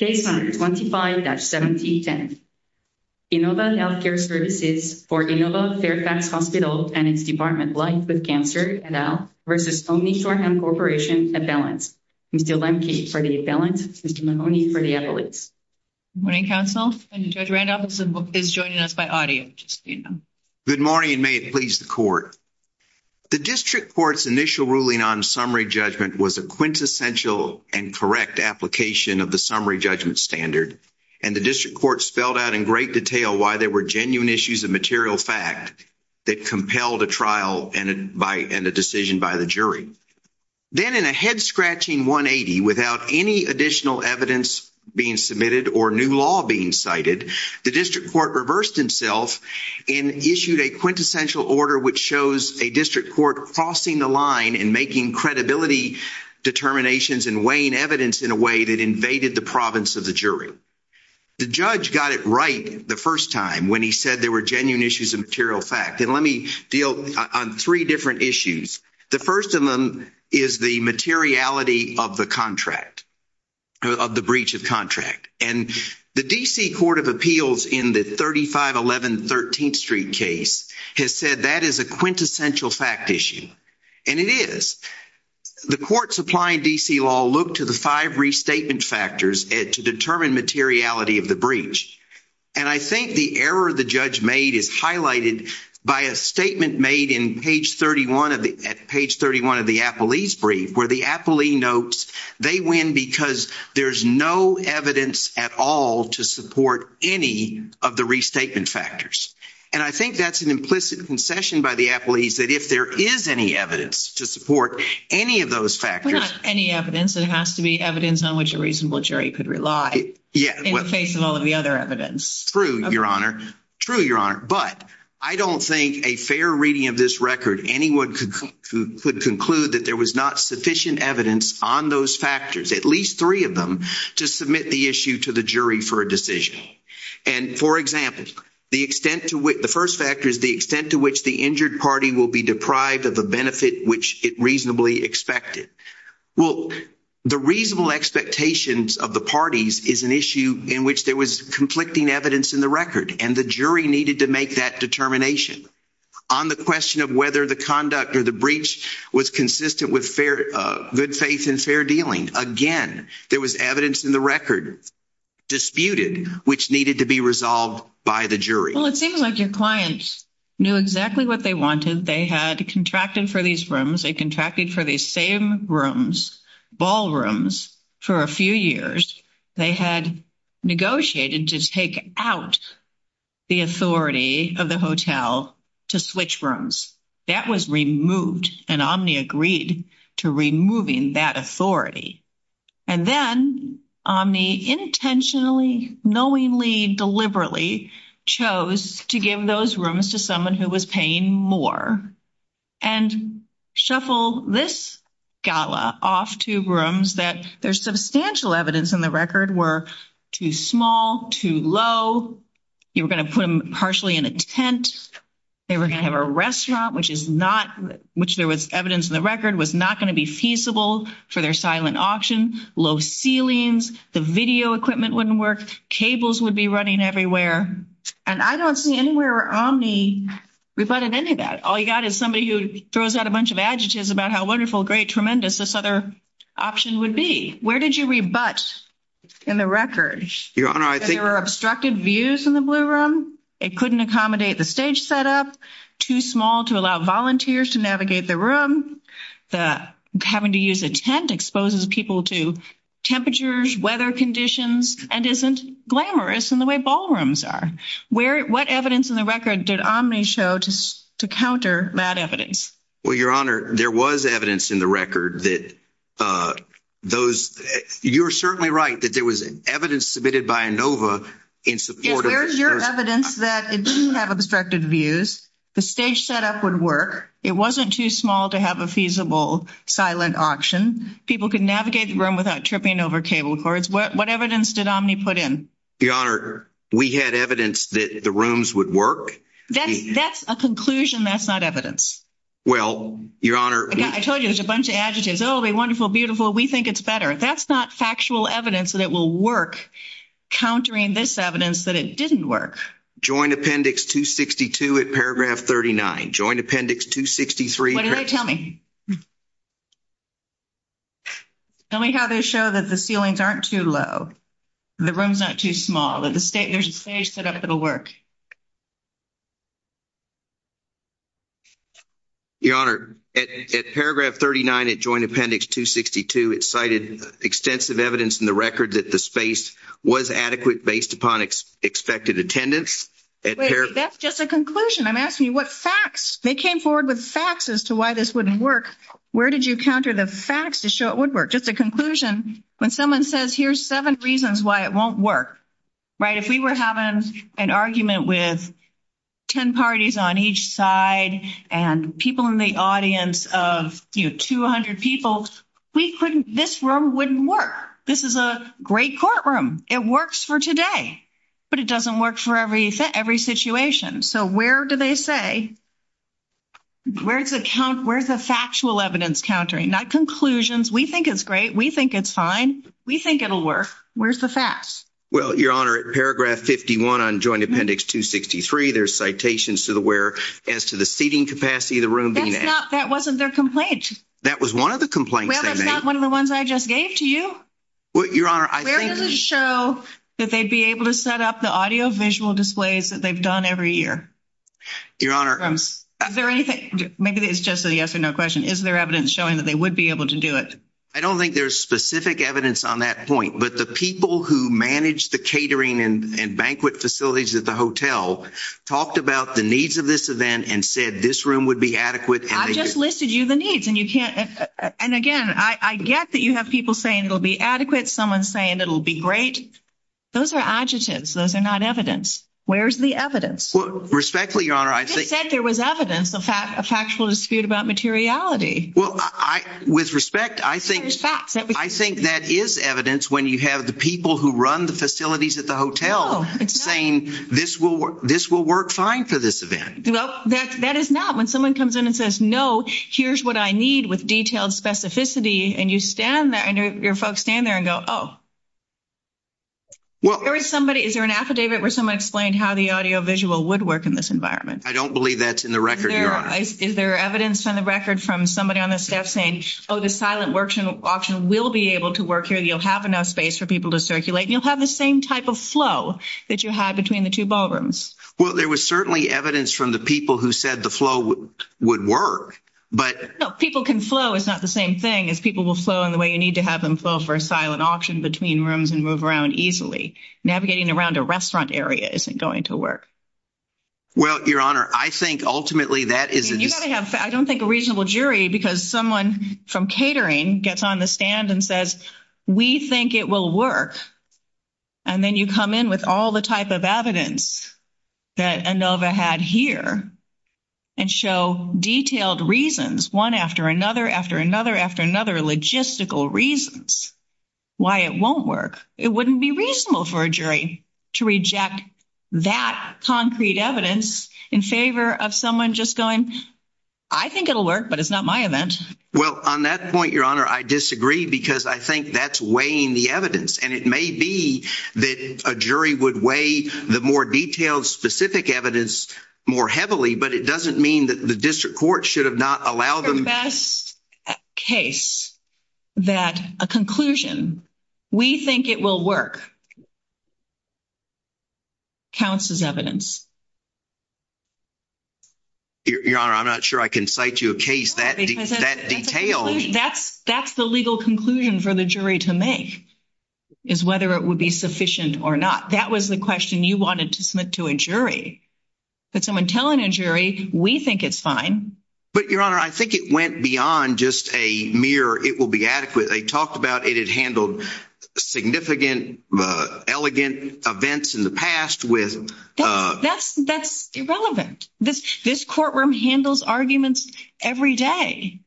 Case number 25-1710. Inova Health Care Services for Inova Fairfax Hospital and its department Life with Cancer, et al. v. Omni Shoreham Corporation, a balance. Mr. Lemke for the balance. Mr. Mahoney for the evidence. Good morning, counsel. Judge Randolph is joining us by audio, just so you know. Good morning and may it please the court. The district court's initial ruling on summary judgment was a quintessential and correct application of the summary judgment standard, and the district court spelled out in great detail why there were genuine issues of material fact that compelled a trial and a decision by the jury. Then, in a head-scratching 180, without any additional evidence being submitted or new law being cited, the district court reversed itself and issued a quintessential in a way that invaded the province of the jury. The judge got it right the first time when he said there were genuine issues of material fact, and let me deal on three different issues. The first of them is the materiality of the contract, of the breach of contract, and the D.C. Court of Appeals in the 3511 13th Street case has said that is a quintessential fact issue, and it is. The courts applying D.C. law look to the five restatement factors to determine materiality of the breach, and I think the error the judge made is highlighted by a statement made in page 31 of the appellee's brief where the appellee notes they win because there's no evidence at all to support any of the restatement factors, and I think that's an implicit concession by the appellees that if there is any evidence to support any of those factors. But not any evidence. It has to be evidence on which a reasonable jury could rely in the face of all of the other evidence. True, Your Honor. True, Your Honor, but I don't think a fair reading of this record anyone could conclude that there was not sufficient evidence on those factors, at least three of them, to submit the issue to the jury for a decision, and, for example, the extent to which the first factor is the extent to which the injured party will be deprived of the benefit which it reasonably expected. Well, the reasonable expectations of the parties is an issue in which there was conflicting evidence in the record, and the jury needed to make that determination. On the question of whether the conduct or the breach was consistent with good faith and fair dealing, again, there was evidence in the record disputed which needed to be resolved by the jury. Well, it seems like your clients knew exactly what they wanted. They had contracted for these rooms. They contracted for these same rooms, ballrooms, for a few years. They had negotiated to take out the authority of the hotel to switch rooms. That was removed, and Omni agreed to removing that authority, and then Omni intentionally, knowingly, deliberately chose to give those rooms to someone who was paying more and shuffle this gala off to rooms that there's substantial evidence in the record were too small, too low. You were going to put them partially in a tent. They were going to have a restaurant, which there was evidence in the record was not going to be feasible for their silent auction, low ceilings, the video equipment wouldn't work, cables would be running everywhere, and I don't see anywhere where Omni rebutted any of that. All you got is somebody who throws out a bunch of adjectives about how wonderful, great, tremendous this other option would be. Where did you rebut in the record? There were obstructed views in the blue room. It couldn't accommodate the stage setup, too small to allow volunteers to navigate the room, the having to use a tent exposes people to temperatures, weather conditions, and isn't glamorous in the way ballrooms are. What evidence in the record did Omni show to counter that evidence? Well, Your Honor, there was evidence in the record that those, you're certainly right that there was evidence submitted by Inova in support of- Yes, where's your evidence that it didn't have obstructed views, the stage setup would work, it wasn't too small to have a feasible silent auction, people could navigate the room without tripping over cable cords. What evidence did Omni put in? Your Honor, we had evidence that the rooms would work. That's a conclusion, that's not evidence. Well, Your Honor- I told you there's a bunch of adjectives. Oh, they're wonderful, beautiful, we think it's better. That's not factual evidence that it will work countering this evidence that didn't work. Joint Appendix 262 at paragraph 39, Joint Appendix 263- What did they tell me? Tell me how they show that the ceilings aren't too low, the room's not too small, that there's a stage set up that'll work. Your Honor, at paragraph 39 at Joint Appendix 262, it cited extensive evidence in the record that the space was adequate based upon expected attendance. That's just a conclusion, I'm asking you what facts, they came forward with facts as to why this wouldn't work, where did you counter the facts to show it would work? Just a conclusion, when someone says here's seven reasons why it won't work, right? If we were having an argument with 10 parties on each side and people in the audience of 200 people, this room wouldn't work. This is a great courtroom, it works for today, but it doesn't work for every situation. So where do they say, where's the factual evidence countering? Not conclusions, we think it's great, we think it's fine, we think it'll work, where's the facts? Well, Your Honor, at paragraph 51 on Joint Appendix 263, there's citations as to the seating capacity of the room. That wasn't their complaint. That was one of the complaints. Well, that's not one of the ones I just gave to you. Well, Your Honor, I think... Where does it show that they'd be able to set up the audio-visual displays that they've done every year? Your Honor... Is there anything, maybe it's just a yes or no question, is there evidence showing that they would be able to do it? I don't think there's specific evidence on that point, but the people who manage the catering and banquet facilities at the hotel talked about the needs of this event and said this room would be adequate... I just listed you the needs and you can't... And again, I get that you have people saying it'll be adequate, someone's saying it'll be great. Those are adjectives, those are not evidence. Where's the evidence? Respectfully, Your Honor, I think... You just said there was evidence, a factual dispute about materiality. Well, with respect, I think that is evidence when you have the people who run the facilities at the hotel saying this will work fine for this event. Well, that is not. When someone comes in and says, no, here's what I need with detailed specificity and you stand there and your folks stand there and go, oh. Is there an affidavit where someone explained how the audio-visual would work in this environment? I don't believe that's in the record, Your Honor. Is there evidence on the record from somebody on the staff saying, oh, the silent auction will be able to work here, you'll have enough space for people to circulate, you'll have the same type of flow that you had between the two ballrooms? Well, there was certainly evidence from the people who said the flow would work, but... No, people can flow is not the same thing as people will flow in the way you need to have them flow for a silent auction between rooms and move around easily. Navigating around a restaurant area isn't going to work. Well, Your Honor, I think ultimately that is... I don't think a reasonable jury, because someone from catering gets on the stand and says, we think it will work. And then you come in with all the type of evidence that Inova had here and show detailed reasons, one after another, after another, after another, logistical reasons why it won't work. It wouldn't be reasonable for a jury to reject that concrete evidence in favor of someone just going, I think it'll work, but it's not my event. Well, on that point, Your Honor, I disagree, because I think that's weighing the evidence. And it may be that a jury would weigh the more detailed specific evidence more heavily, but it doesn't mean that the district court should have not allowed them... that a conclusion, we think it will work, counts as evidence. Your Honor, I'm not sure I can cite you a case that detailed... That's the legal conclusion for the jury to make, is whether it would be sufficient or not. That was the question you wanted to submit to a jury. But someone telling a jury, we think it's fine. But Your Honor, I think it went beyond just a mere, it will be adequate. They talked about it had handled significant, elegant events in the past with... That's irrelevant. This courtroom handles arguments every day,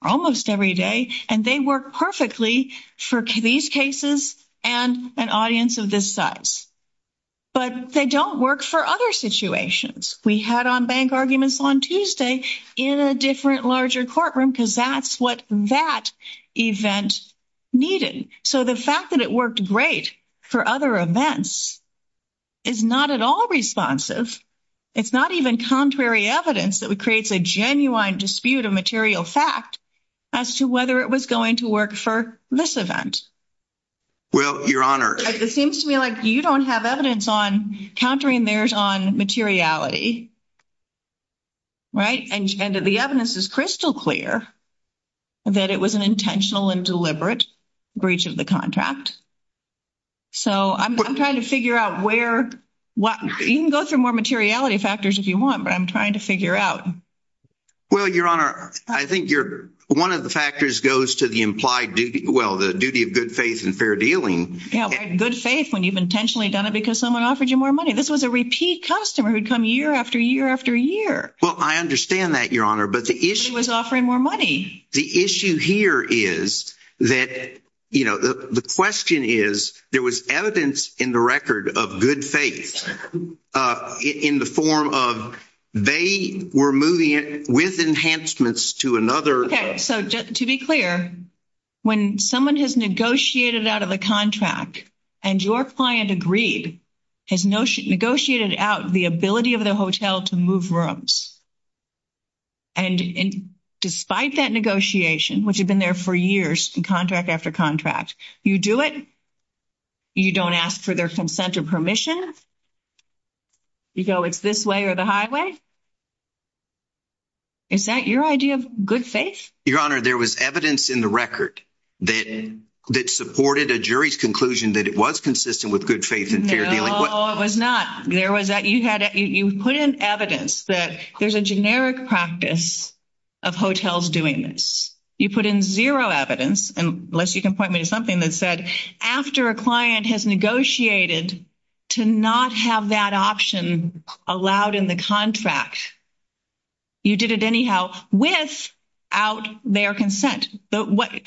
almost every day, and they work perfectly for these cases and an audience of this size. But they don't work for other situations. We had on-bank arguments on Tuesday in a different, larger courtroom, because that's what that event needed. So the fact that it worked great for other events is not at all responsive. It's not even contrary evidence that creates a genuine dispute of material fact as to whether it was going to work for this event. Well, Your Honor... It seems to me like you don't have evidence on countering theirs on materiality, right? And the evidence is crystal clear that it was an intentional and deliberate breach of the contract. So I'm trying to figure out where... You can go through more materiality factors if you want, but I'm trying to figure out. Well, Your Honor, I think one of the factors goes to the implied duty... Well, the duty of good faith and fair dealing. Yeah, good faith when you've intentionally done it because someone offered you more money. This was a repeat customer who'd come year after year after year. Well, I understand that, Your Honor, but the issue... But he was offering more money. The issue here is that... The question is, there was evidence in the record of good faith in the form of they were moving it with enhancements to another... So to be clear, when someone has negotiated out of the contract and your client agreed, has negotiated out the ability of the hotel to move rooms, and despite that negotiation, which had been there for years in contract after contract, you do it, you don't ask for their consent or permission? You go, it's this way or the highway? Is that your idea of good faith? Your Honor, there was evidence in the record that supported a jury's conclusion that it was consistent with good faith and fair dealing. No, it was not. You put in evidence that there's a generic practice of hotels doing this. You put in zero evidence, unless you can point me to something that said, after a client has negotiated to not have that option allowed in the contract, you did it anyhow without their consent.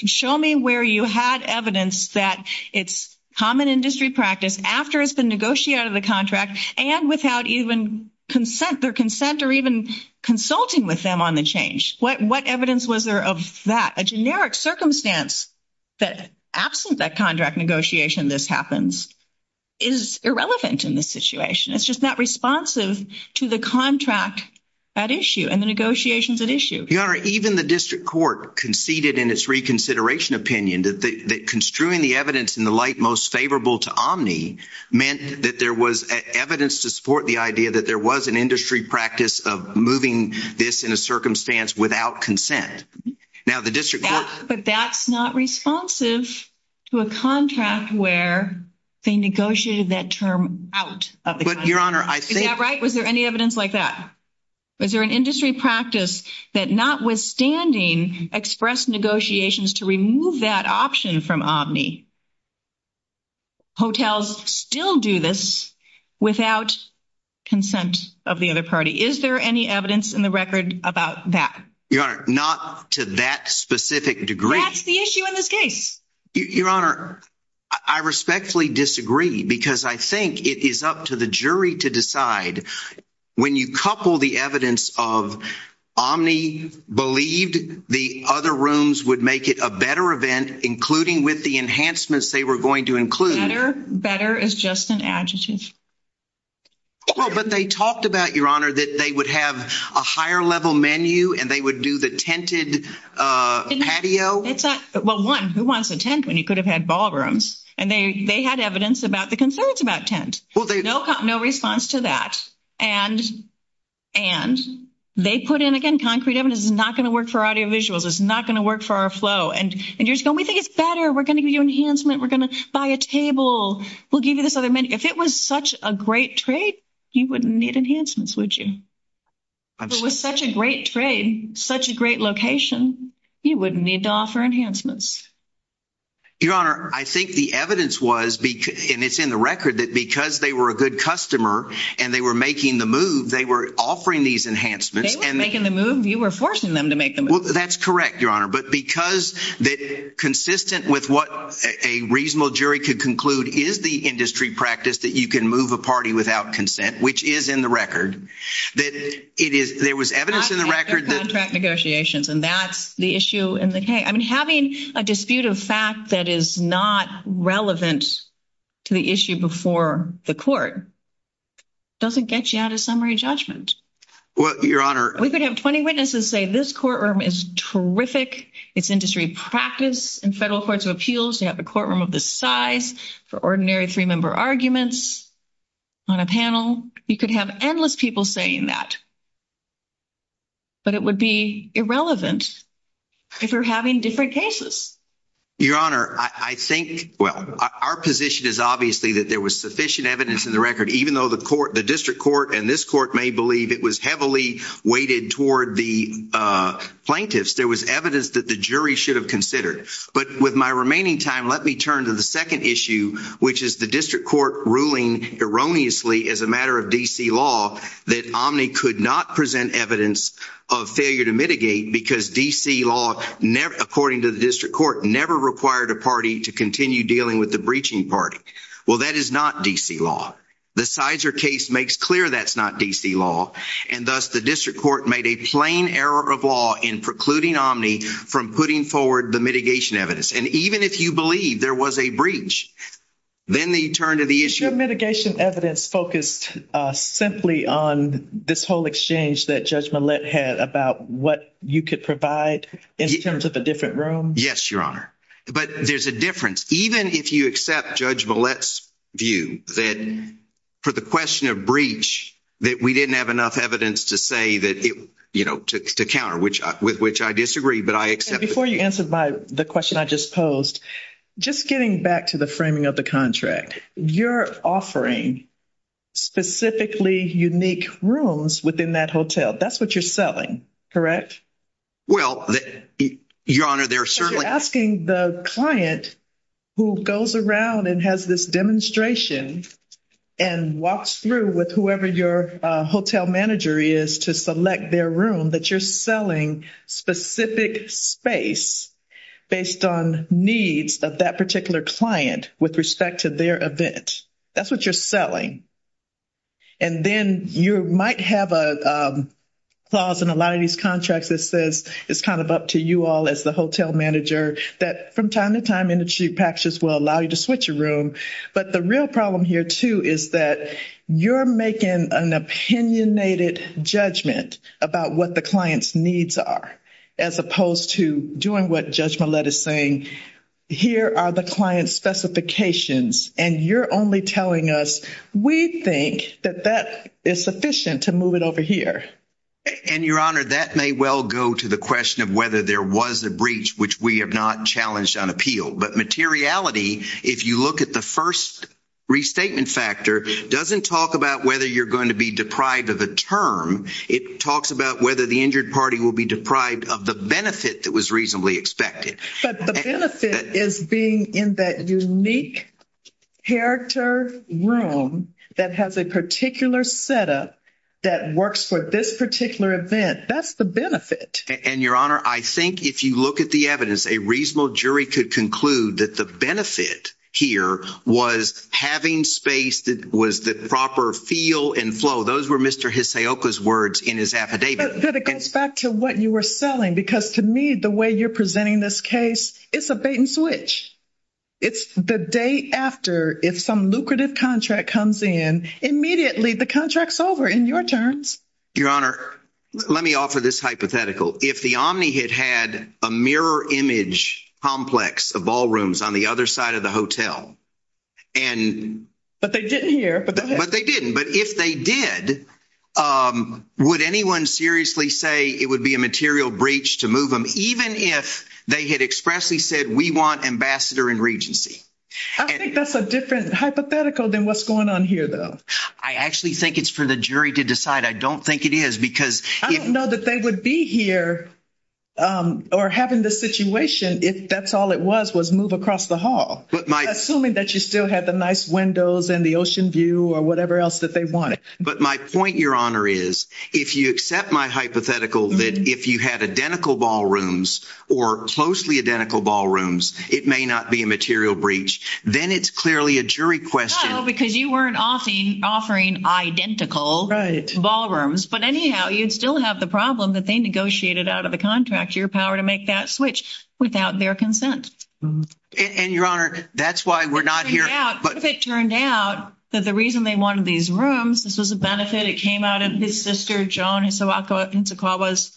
Show me where you had evidence that it's common industry practice after it's been negotiated out of the contract and without even consent, their consent, or even consulting with them on the change. What evidence was there of that? A generic circumstance that absent that contract negotiation this happens is irrelevant in this situation. It's just not responsive to the contract at issue and the negotiations at issue. Your Honor, even the district court conceded in its reconsideration opinion that construing the evidence in the light most favorable to Omni meant that there was evidence to support the idea that there was an industry practice of moving this in a circumstance without consent. But that's not responsive to a contract where they negotiated that term out of the contract. Is that right? Was there any evidence like that? Was there an industry practice that notwithstanding expressed negotiations to remove that option from Omni, hotels still do this without consent of the other party? Is there any evidence in the record about that? Your Honor, not to that specific degree. That's the issue in this case. Your Honor, I respectfully disagree because I think it is up to the jury to decide. When you couple the evidence of Omni believed the other rooms would make it a better event, including with the enhancements they were going to include. Better is just an adjective. But they talked about, Your Honor, that they would have a higher level menu and they would do the tented patio. Well, one, who wants a tent when you could have had ballrooms? And they had evidence about the concerns about tent. No response to that. And they put in, again, concrete evidence. It's not going to work for audiovisuals. It's not going to work for our flow. And you're just going, we think it's better. We're going to give you enhancement. We're going to buy a table. We'll give you this other menu. If it was such a great trade, you wouldn't need enhancements, would you? If it was such a great trade, such a great location, you wouldn't need to offer enhancements. Your Honor, I think the evidence was, and it's in the record, that because they were a good customer and they were making the move, they were offering these enhancements. They were making the move. You were forcing them to make the move. That's correct, Your Honor. But because that consistent with what a reasonable jury could conclude is the industry practice that you can move a party without consent, which is in the record, that it is, there was evidence in the record. Negotiations. And that's the issue in the case. I mean, having a dispute of fact that is not relevant to the issue before the court doesn't get you out of summary judgment. Your Honor. We could have 20 witnesses say this courtroom is terrific. It's industry practice in federal courts of appeals. You have a courtroom of the size for ordinary three-member arguments on a panel. You could have endless people saying that. But it would be irrelevant if you're having different cases. Your Honor, I think, well, our position is obviously that there was sufficient evidence in the record, even though the court, the district court, and this court may believe it was heavily weighted toward the plaintiffs. There was evidence that the jury should have considered. But with my remaining time, let me turn to the second issue, which is the district court ruling erroneously as a matter of D.C. law that Omni could not present evidence of failure to mitigate because D.C. law, according to the district court, never required a party to continue dealing with the breaching party. Well, that is not D.C. law. The Sizer case makes clear that's not D.C. law. And thus the district court made a plain error of law in precluding Omni from putting forward the mitigation evidence. And even if you believe there was a breach, then they turn to the issue of mitigation evidence focused simply on this whole exchange that Judge Millett had about what you could provide in terms of a different room. Yes, Your Honor. But there's a difference. Even if you accept Judge Millett's view that for the question of breach, that we didn't have enough evidence to say that, you know, to counter, with which I disagree, but I accept. Before you answer the question I just posed, just getting back to the framing of the contract, you're offering specifically unique rooms within that hotel. That's what you're selling, correct? Well, Your Honor, they're certainly... You're asking the client who goes around and has this demonstration and walks through with whoever your hotel manager is to select their room, that you're selling specific space based on needs of that particular client with respect to their event. That's what you're selling. And then you might have a clause in a lot of these contracts that says it's kind of up to you all as the hotel manager, that from time to time industry practices will allow you to switch a room. But the real problem here, too, is that you're making an opinionated judgment about what the client's needs are as opposed to doing what Judge Millett is saying. Here are the client's specifications and you're only telling us we think that that is sufficient to move it over here. And, Your Honor, that may well go to the question of whether there was a breach which we have not challenged on appeal. But materiality, if you look at the first restatement factor, doesn't talk about whether you're going to be deprived of a term. It talks about whether the injured party will be deprived of the benefit that was reasonably expected. But the benefit is being in that unique character room that has a particular setup that works for this particular event. That's the benefit. And, Your Honor, I think if you look at the evidence, a reasonable jury could conclude that the benefit here was having space that was the proper feel and flow. Those were Mr. Hisaoka's words in his affidavit. But it goes back to what you were selling because, to me, the way you're presenting this case, it's a bait and switch. It's the day after if some lucrative contract comes in, immediately the contract's over in your terms. Your Honor, let me offer this hypothetical. If the Omni had had a mirror image complex of ballrooms on the other side of the hotel, and... But they didn't here. But they didn't. But if they did, would anyone seriously say it would be a material breach to move them, even if they had expressly said, we want ambassador in regency? I think that's a different hypothetical than what's going on here, though. I actually think it's for the jury to decide. I don't think it is because... I don't know that they would be here or having this situation if that's all it was, was move across the hall. But my... Assuming that you still had the nice windows and the ocean view or whatever else that they wanted. But my point, Your Honor, is if you accept my hypothetical that if you had identical ballrooms or closely identical ballrooms, it may not be a material question. No, because you weren't offering identical ballrooms. But anyhow, you'd still have the problem that they negotiated out of the contract, your power to make that switch without their consent. And Your Honor, that's why we're not here. If it turned out that the reason they wanted these rooms, this was a benefit. It came out of his sister, Joan Hisakawa's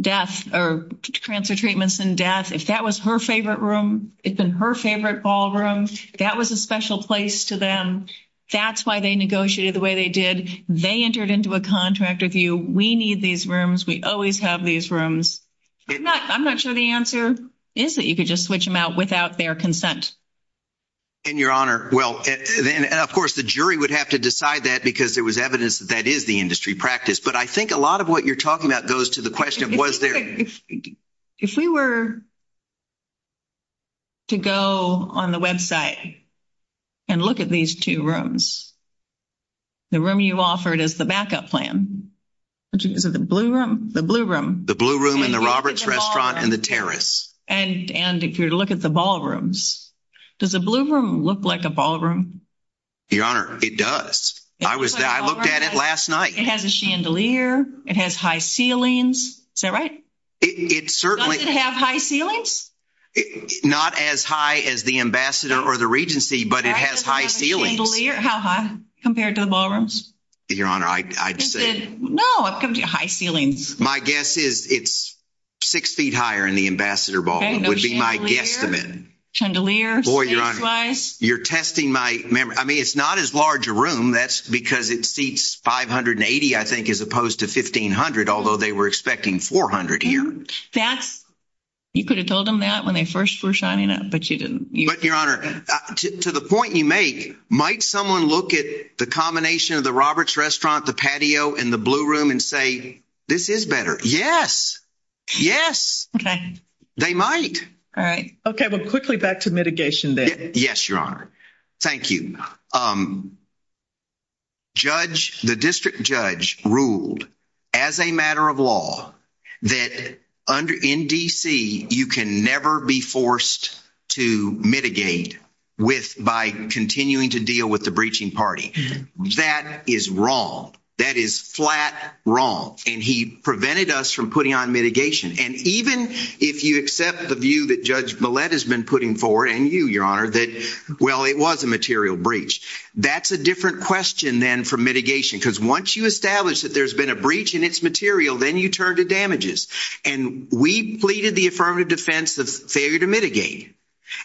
death or cancer treatments and death. If that was her favorite room, it'd been her favorite ballroom. That was a special place to them. That's why they negotiated the way they did. They entered into a contract with you. We need these rooms. We always have these rooms. I'm not sure the answer is that you could just switch them out without their consent. And Your Honor, well, then, of course, the jury would have to decide that because there was evidence that that is the industry practice. But I think a lot of what you're talking about was there. If we were to go on the website and look at these two rooms, the room you offered as the backup plan, which is the blue room, the blue room, the blue room in the Roberts restaurant and the terrace. And if you look at the ballrooms, does the blue room look like a ballroom? Your Honor, it does. I was there. I looked at it last night. It has a chandelier. It has high ceilings. Is that right? Does it have high ceilings? Not as high as the Ambassador or the Regency, but it has high ceilings. How high compared to the ballrooms? Your Honor, I'd say... No, I'm coming to you. High ceilings. My guess is it's six feet higher in the Ambassador ballroom. It would be my guesstimate. Chandelier. You're testing my memory. I mean, it's not as large a room. That's because it seats 580, I think, as opposed to 1,500, although they were expecting 400 here. You could have told them that when they first were signing up, but you didn't. But, Your Honor, to the point you make, might someone look at the combination of the Roberts restaurant, the patio, and the blue room and say, this is better? Yes. Yes. They might. All right. Okay. Well, quickly back to mitigation then. Yes, Your Honor. Thank you. The district judge ruled, as a matter of law, that in D.C. you can never be forced to mitigate by continuing to deal with the breaching party. That is wrong. That is flat wrong. And he prevented us from putting on mitigation. And even if you accept the view that Judge well, it was a material breach, that's a different question then from mitigation. Because once you establish that there's been a breach and it's material, then you turn to damages. And we pleaded the affirmative defense of failure to mitigate.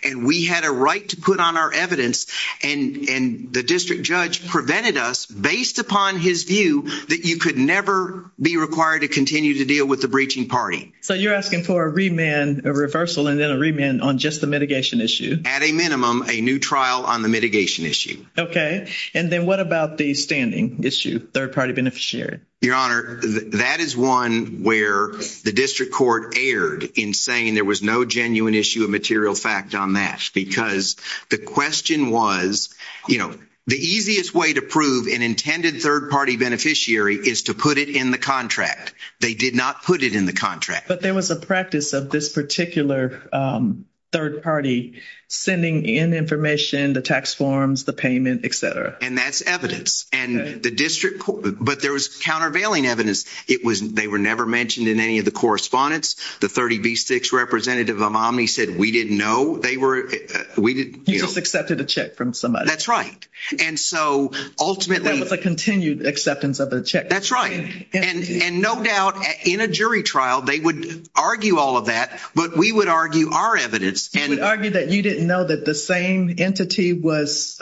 And we had a right to put on our evidence. And the district judge prevented us based upon his view that you could never be required to continue to deal with the breaching party. So you're asking for a remand, a reversal, and then a remand on just the mitigation issue? At a minimum, a new trial on the mitigation issue. Okay. And then what about the standing issue, third-party beneficiary? Your Honor, that is one where the district court erred in saying there was no genuine issue of material fact on that. Because the question was, you know, the easiest way to prove an intended third-party beneficiary is to put it in the contract. They did not put it in the contract. But there was a practice of this particular third-party sending in information, the tax forms, the payment, et cetera. And that's evidence. But there was countervailing evidence. They were never mentioned in any of the correspondence. The 30B6 representative of Omni said, we didn't know. You just accepted a check from somebody. That's right. And so ultimately— That was a continued acceptance of the check. That's right. And no doubt, in a jury trial, they would argue all of that. But we would argue our evidence and— Would argue that you didn't know that the same entity was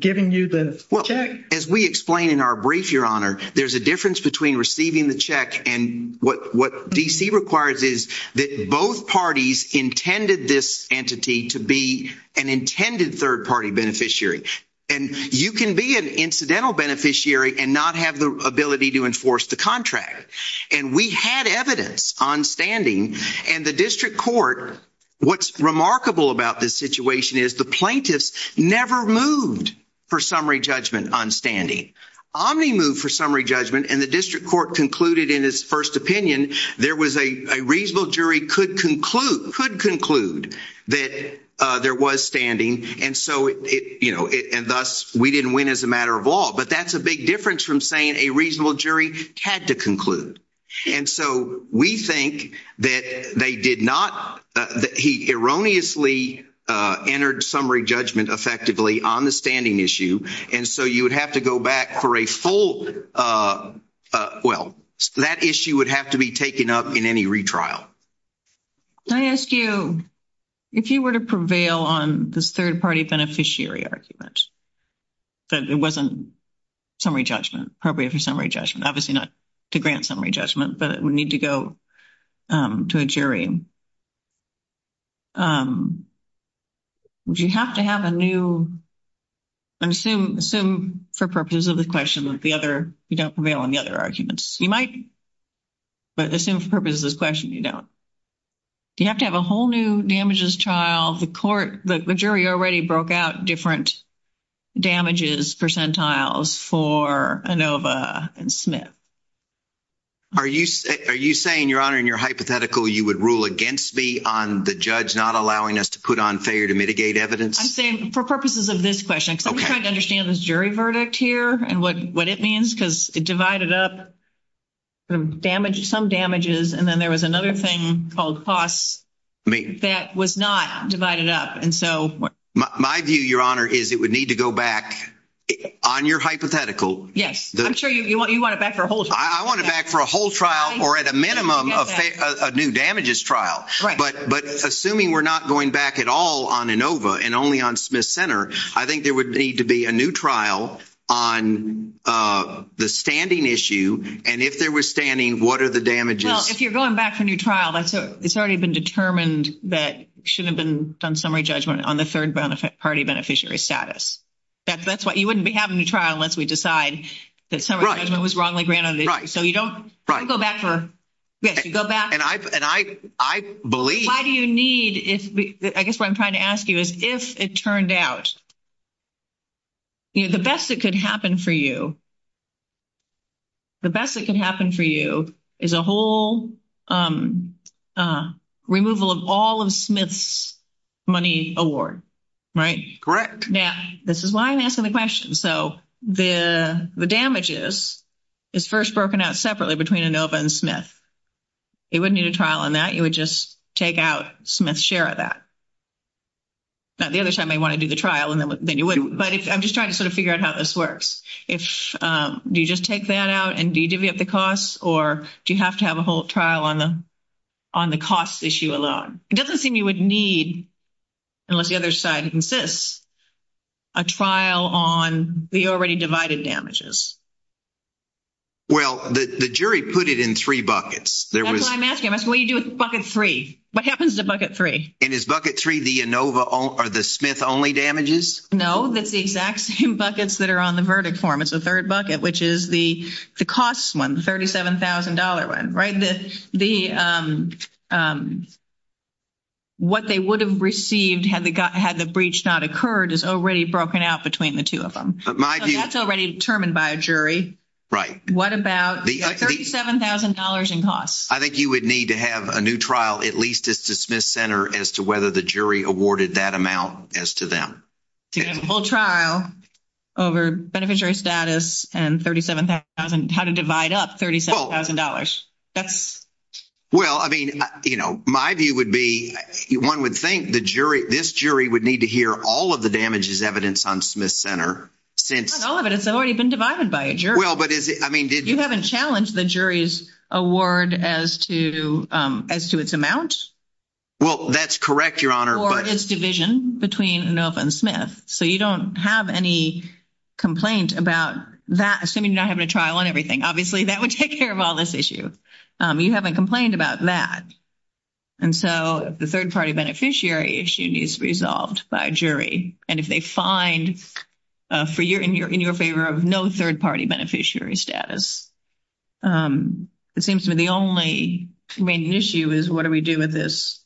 giving you the check? Well, as we explain in our brief, Your Honor, there's a difference between receiving the check and what D.C. requires is that both parties intended this entity to be an intended third-party beneficiary. And you can be an incidental beneficiary and not have the ability to enforce the contract. And we had evidence on standing. And the district court, what's remarkable about this situation is the plaintiffs never moved for summary judgment on standing. Omni moved for summary judgment, and the district court concluded in its first opinion there was a—a reasonable jury could conclude that there was standing. And so it—you know, and thus, we didn't win as a matter of law. But that's a big difference from saying a reasonable jury had to conclude. And so we think that they did not—that he erroneously entered summary judgment effectively on the standing issue. And so you would have to go back for a full—well, that issue would have to be taken up in any retrial. Can I ask you, if you were to prevail on this third-party beneficiary argument, that it wasn't summary judgment, appropriate for summary judgment, obviously not to grant summary judgment, but it would need to go to a jury, would you have to have a new—assume—assume for purposes of this question that the other—you don't prevail on the other arguments. You might, but assume for purposes of this question you don't. Do you have to have a whole new damages trial? The court—the jury already broke out different damages percentiles for Inova and Smith. Are you—are you saying, Your Honor, in your hypothetical you would rule against me on the judge not allowing us to put on failure to mitigate evidence? I'm saying for purposes of this question, because I'm trying to understand this jury verdict here and what it means, because it divided up some damages, and then there was another thing called costs that was not divided up. And so— My view, Your Honor, is it would need to go back on your hypothetical. Yes. I'm sure you want it back for a whole trial. I want it back for a whole trial or at a minimum a new damages trial. Right. But assuming we're not going back at all on Inova and only on Smith-Center, I think there would need to be a new trial on the standing issue and if there was standing, what are the damages? Well, if you're going back for a new trial, it's already been determined that it shouldn't have been done summary judgment on the third party beneficiary status. That's what—you wouldn't be having a trial unless we decide that summary judgment was wrongly granted. Right. So you don't go back for— Yes, you go back— And I believe— Why do you need—I guess what I'm trying to ask you is if it turned out, you know, the best that could happen for you, the best that could happen for you is a whole removal of all of Smith's money award, right? Correct. Now, this is why I'm asking the question. So the damages is first broken out separately between Inova and Smith. It wouldn't need a trial on that. You would just take out Smith's share of that. Now, the other side may want to do the trial and then you would, but I'm just trying to sort of figure out how this works. If—do you just take that out and do you divvy up the costs or do you have to have a whole trial on the cost issue alone? It doesn't seem you would need, unless the other side insists, a trial on the already divided damages. Well, the jury put it in three buckets. That's what I'm asking. I'm asking, what do you do with bucket three? What happens to bucket three? And is bucket three the Inova or the Smith-only damages? No, that's the exact same buckets that are on the verdict form. It's the third bucket, which is the cost one, the $37,000 one, right? What they would have received had the breach not occurred is already broken out between the two of them. So that's already determined by a jury. Right. What about the $37,000 in costs? I think you would need to have a new trial, at least, as to Smith Center, as to whether the jury awarded that amount as to them. A full trial over beneficiary status and $37,000, how to divide up $37,000. Well, I mean, my view would be, one would think this jury would need to hear all of the damages evidence on Smith Center since- Not all of it. It's already been divided by a jury. You haven't challenged the jury's award as to its amount? Well, that's correct, Your Honor, but- Or its division between Inova and Smith. So you don't have any complaint about that, assuming you're not having a trial on everything. Obviously, that would take care of all this issue. You haven't complained about that. And so, the third-party beneficiary issue needs to be resolved by a jury. And if they find in your favor of no third-party beneficiary status, it seems to me the only remaining issue is, what do we do with this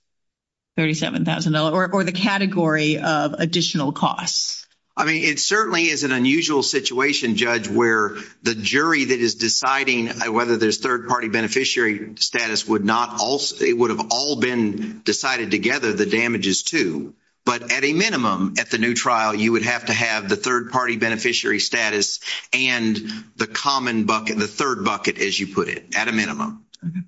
$37,000 or the category of additional costs? I mean, it certainly is an unusual situation, Judge, where the jury that is deciding whether there's third-party beneficiary status would not also- It would have all been decided together, the damages too. But at a minimum, at the new trial, you would have to have the third-party beneficiary status and the common bucket, the third bucket, as you put it, at a minimum. Okay.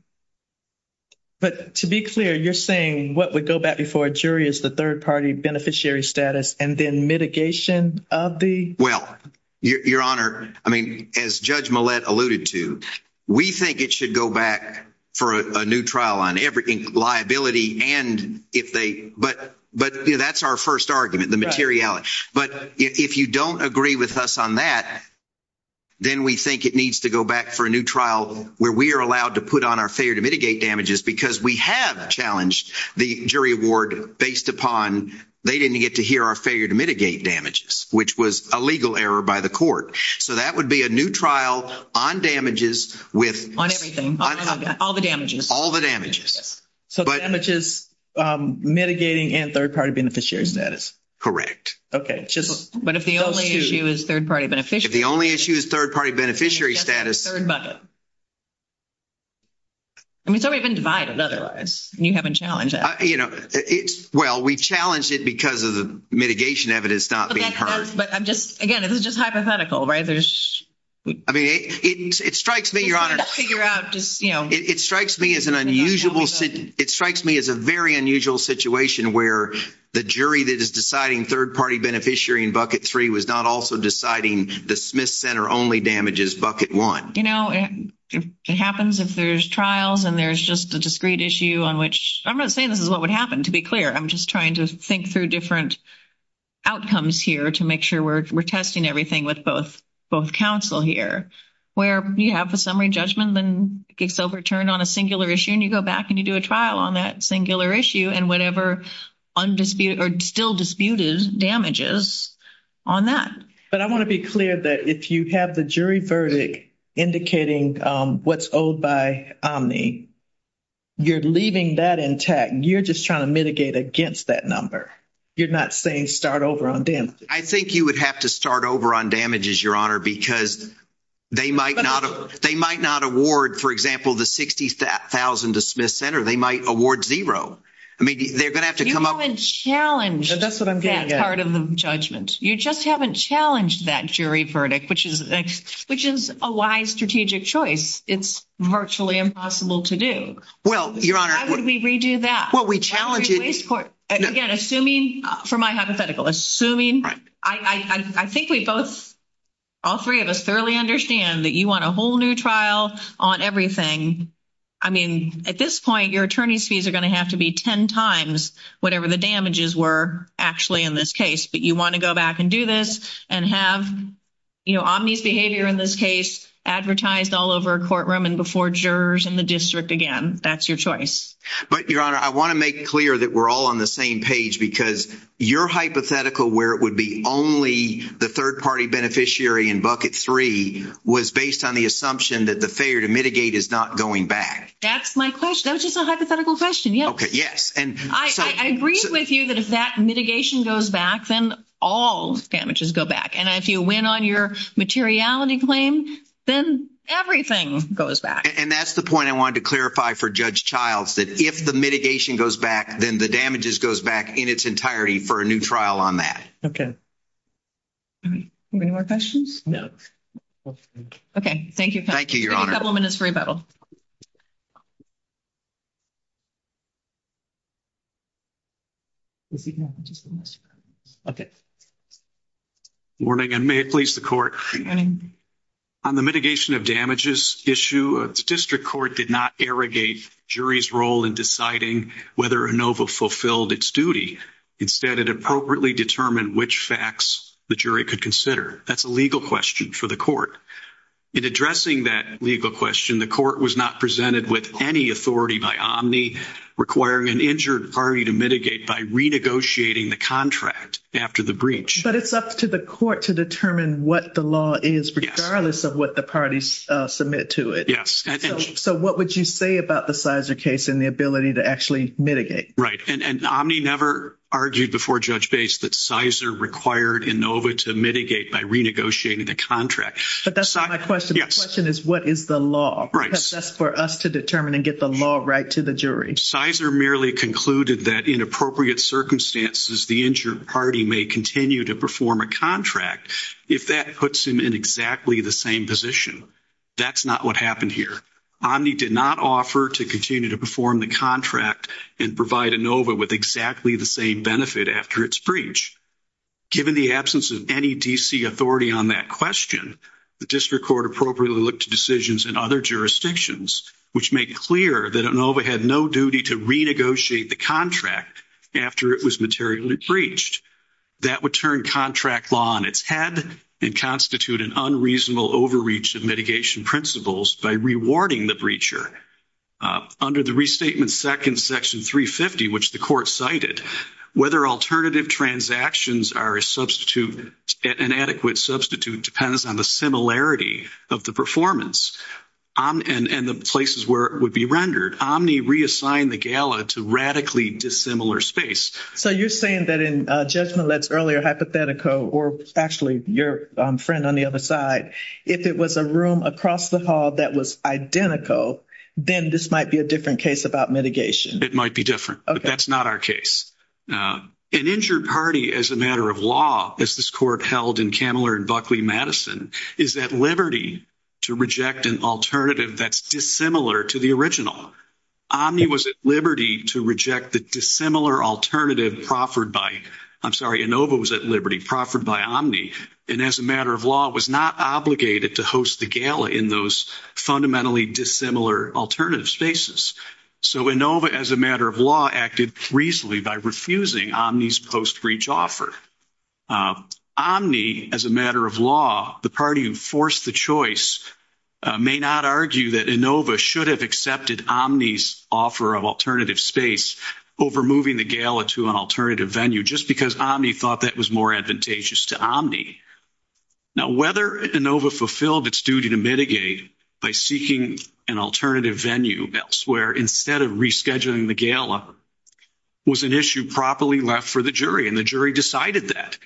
But to be clear, you're saying what would go back before a jury is the third-party beneficiary status and then mitigation of the- Well, Your Honor, I mean, as Judge Millett alluded to, we think it should go back for a new trial on everything, liability and if they- But that's our first argument, the materiality. But if you don't agree with us on that, then we think it needs to back for a new trial where we are allowed to put on our failure to mitigate damages because we have challenged the jury award based upon they didn't get to hear our failure to mitigate damages, which was a legal error by the court. So that would be a new trial on damages with- On everything. All the damages. All the damages. So damages, mitigating and third-party beneficiary status. Correct. Okay. But if the only issue is third-party beneficiary- If the only issue is third-party status- Third bucket. I mean, it's already been divided otherwise and you haven't challenged that. You know, it's- Well, we challenged it because of the mitigation evidence not being heard. But I'm just- Again, this is just hypothetical, right? There's- I mean, it strikes me, Your Honor- It's hard to figure out just, you know- It strikes me as an unusual- It strikes me as a very unusual situation where the jury that is deciding third-party beneficiary in bucket three was not also deciding the Smith Center only damages bucket one. You know, it happens if there's trials and there's just a discrete issue on which- I'm not saying this is what would happen, to be clear. I'm just trying to think through different outcomes here to make sure we're testing everything with both counsel here. Where you have a summary judgment then gets overturned on a singular issue and you go back and you do a trial on that singular issue and whatever undisputed or still disputed damages on that. But I want to be clear that if you have the jury verdict indicating what's owed by Omni, you're leaving that intact. You're just trying to mitigate against that number. You're not saying start over on damages. I think you would have to start over on damages, Your Honor, because they might not award, for example, the $60,000 to Smith Center. They might award zero. I mean, they're going to have to come up- You haven't challenged that part of the judgment. You just haven't challenged that jury verdict, which is a wise strategic choice. It's virtually impossible to do. Well, Your Honor- Why would we redo that? Well, we challenged it- Again, assuming, for my hypothetical, assuming- Right. I think we both, all three of us, thoroughly understand that you want a whole new trial on everything. I mean, at this point, your attorney's fees are going to have to be 10 times whatever the damages were actually in this case, but you want to go back and do this and have Omni's behavior in this case advertised all over a courtroom and before jurors in the district again. That's your choice. But, Your Honor, I want to make clear that we're all on the same page because your hypothetical where it would be only the third-party beneficiary in bucket three was based on the assumption that the failure to mitigate is not going back. That's my question. That was just a hypothetical question. Yes. I agree with you that if that mitigation goes back, then all damages go back. And if you win on your materiality claim, then everything goes back. And that's the point I wanted to clarify for Judge Childs, that if the mitigation goes back, then the damages goes back in its entirety for a new trial on that. Okay. Any more questions? No. Okay. Thank you. Thank you, Your Honor. A couple of minutes for rebuttal. Is he here? Okay. Morning, and may it please the Court. On the mitigation of damages issue, the district court did not irrigate jury's role in deciding whether ANOVA fulfilled its duty. Instead, it appropriately determined which facts the jury could consider. That's a legal question for the Court. In addressing that legal question, the Court was not presented with any authority by Omni requiring an injured party to mitigate by renegotiating the contract after the breach. But it's up to the Court to determine what the law is, regardless of what the parties submit to it. Yes. So what would you say about the Cizer case and the ability to actually mitigate? Right. And Omni never argued before Judge Bates that Cizer required ANOVA to mitigate by renegotiating the contract. But that's not my question. The question is, what is the law? Right. That's for us to determine and get the law right to the jury. Cizer merely concluded that in appropriate circumstances, the injured party may continue to perform a contract if that puts him in exactly the same position. That's not what happened here. Omni did not offer to continue to perform the contract and provide ANOVA with exactly the same benefit after its breach. Given the absence of any D.C. authority on that question, the District Court appropriately looked to decisions in other jurisdictions which make clear that ANOVA had no duty to renegotiate the contract after it was materially breached. That would turn contract law on its head and constitute an unreasonable overreach of mitigation principles by rewarding the breacher. Under the Restatement 2nd, Section 350, which the Court cited, whether alternative transactions are an adequate substitute depends on the similarity of the performance and the places where it would be rendered. Omni reassigned the gala to radically dissimilar space. So you're saying that in Judge Millett's earlier hypothetical, or actually your friend on the other side, if it was a room across the hall that was identical, then this might be a different case about mitigation. It might be different, but that's not our case. An injured party, as a matter of law, as this Court held in Kamler and Buckley-Madison, is at liberty to reject an alternative that's dissimilar to the original. Omni was at liberty to reject the dissimilar alternative proffered by, I'm sorry, ANOVA was at liberty, proffered by Omni, and as a matter of law, was not obligated to host the gala in those fundamentally dissimilar alternative spaces. So ANOVA, as a matter of law, acted reasonably by refusing Omni's post-breach offer. Omni, as a matter of law, the party who forced the choice, may not argue that ANOVA should have accepted Omni's offer of alternative space over moving the gala to an alternative venue, just because Omni thought that was more advantageous to Omni. Now, whether ANOVA fulfilled its duty to mitigate by seeking an alternative venue elsewhere, instead of rescheduling the gala, was an issue properly left for the jury, and the jury decided that.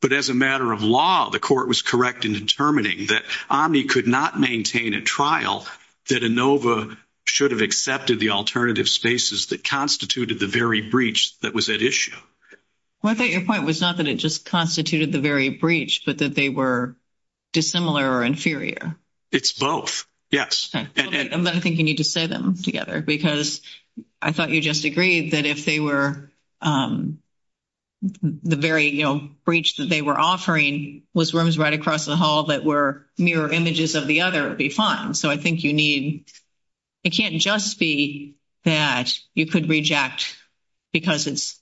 But as a matter of law, the court was correct in determining that Omni could not maintain a trial, that ANOVA should have accepted the alternative spaces that constituted the very breach that was at issue. Well, I thought your point was not that it just constituted the very breach, but that they were dissimilar or inferior. It's both, yes. And I think you need to say them together, because I thought you just agreed that if the very breach that they were offering was rooms right across the hall that were mirror images of the other, it'd be fine. So I think you need, it can't just be that you could reject because it's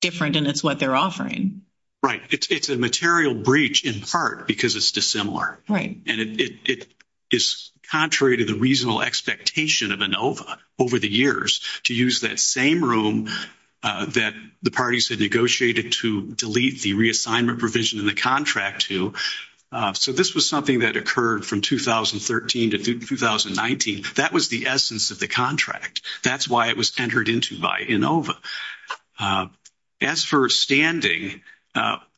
different and it's what they're offering. Right. It's a material breach in part because it's dissimilar. Right. And it is contrary to the reasonable expectation of ANOVA over the years to use that same room that the parties had negotiated to delete the reassignment provision in the contract to. So this was something that occurred from 2013 to 2019. That was the essence of the contract. That's why it was entered into by ANOVA. As for standing,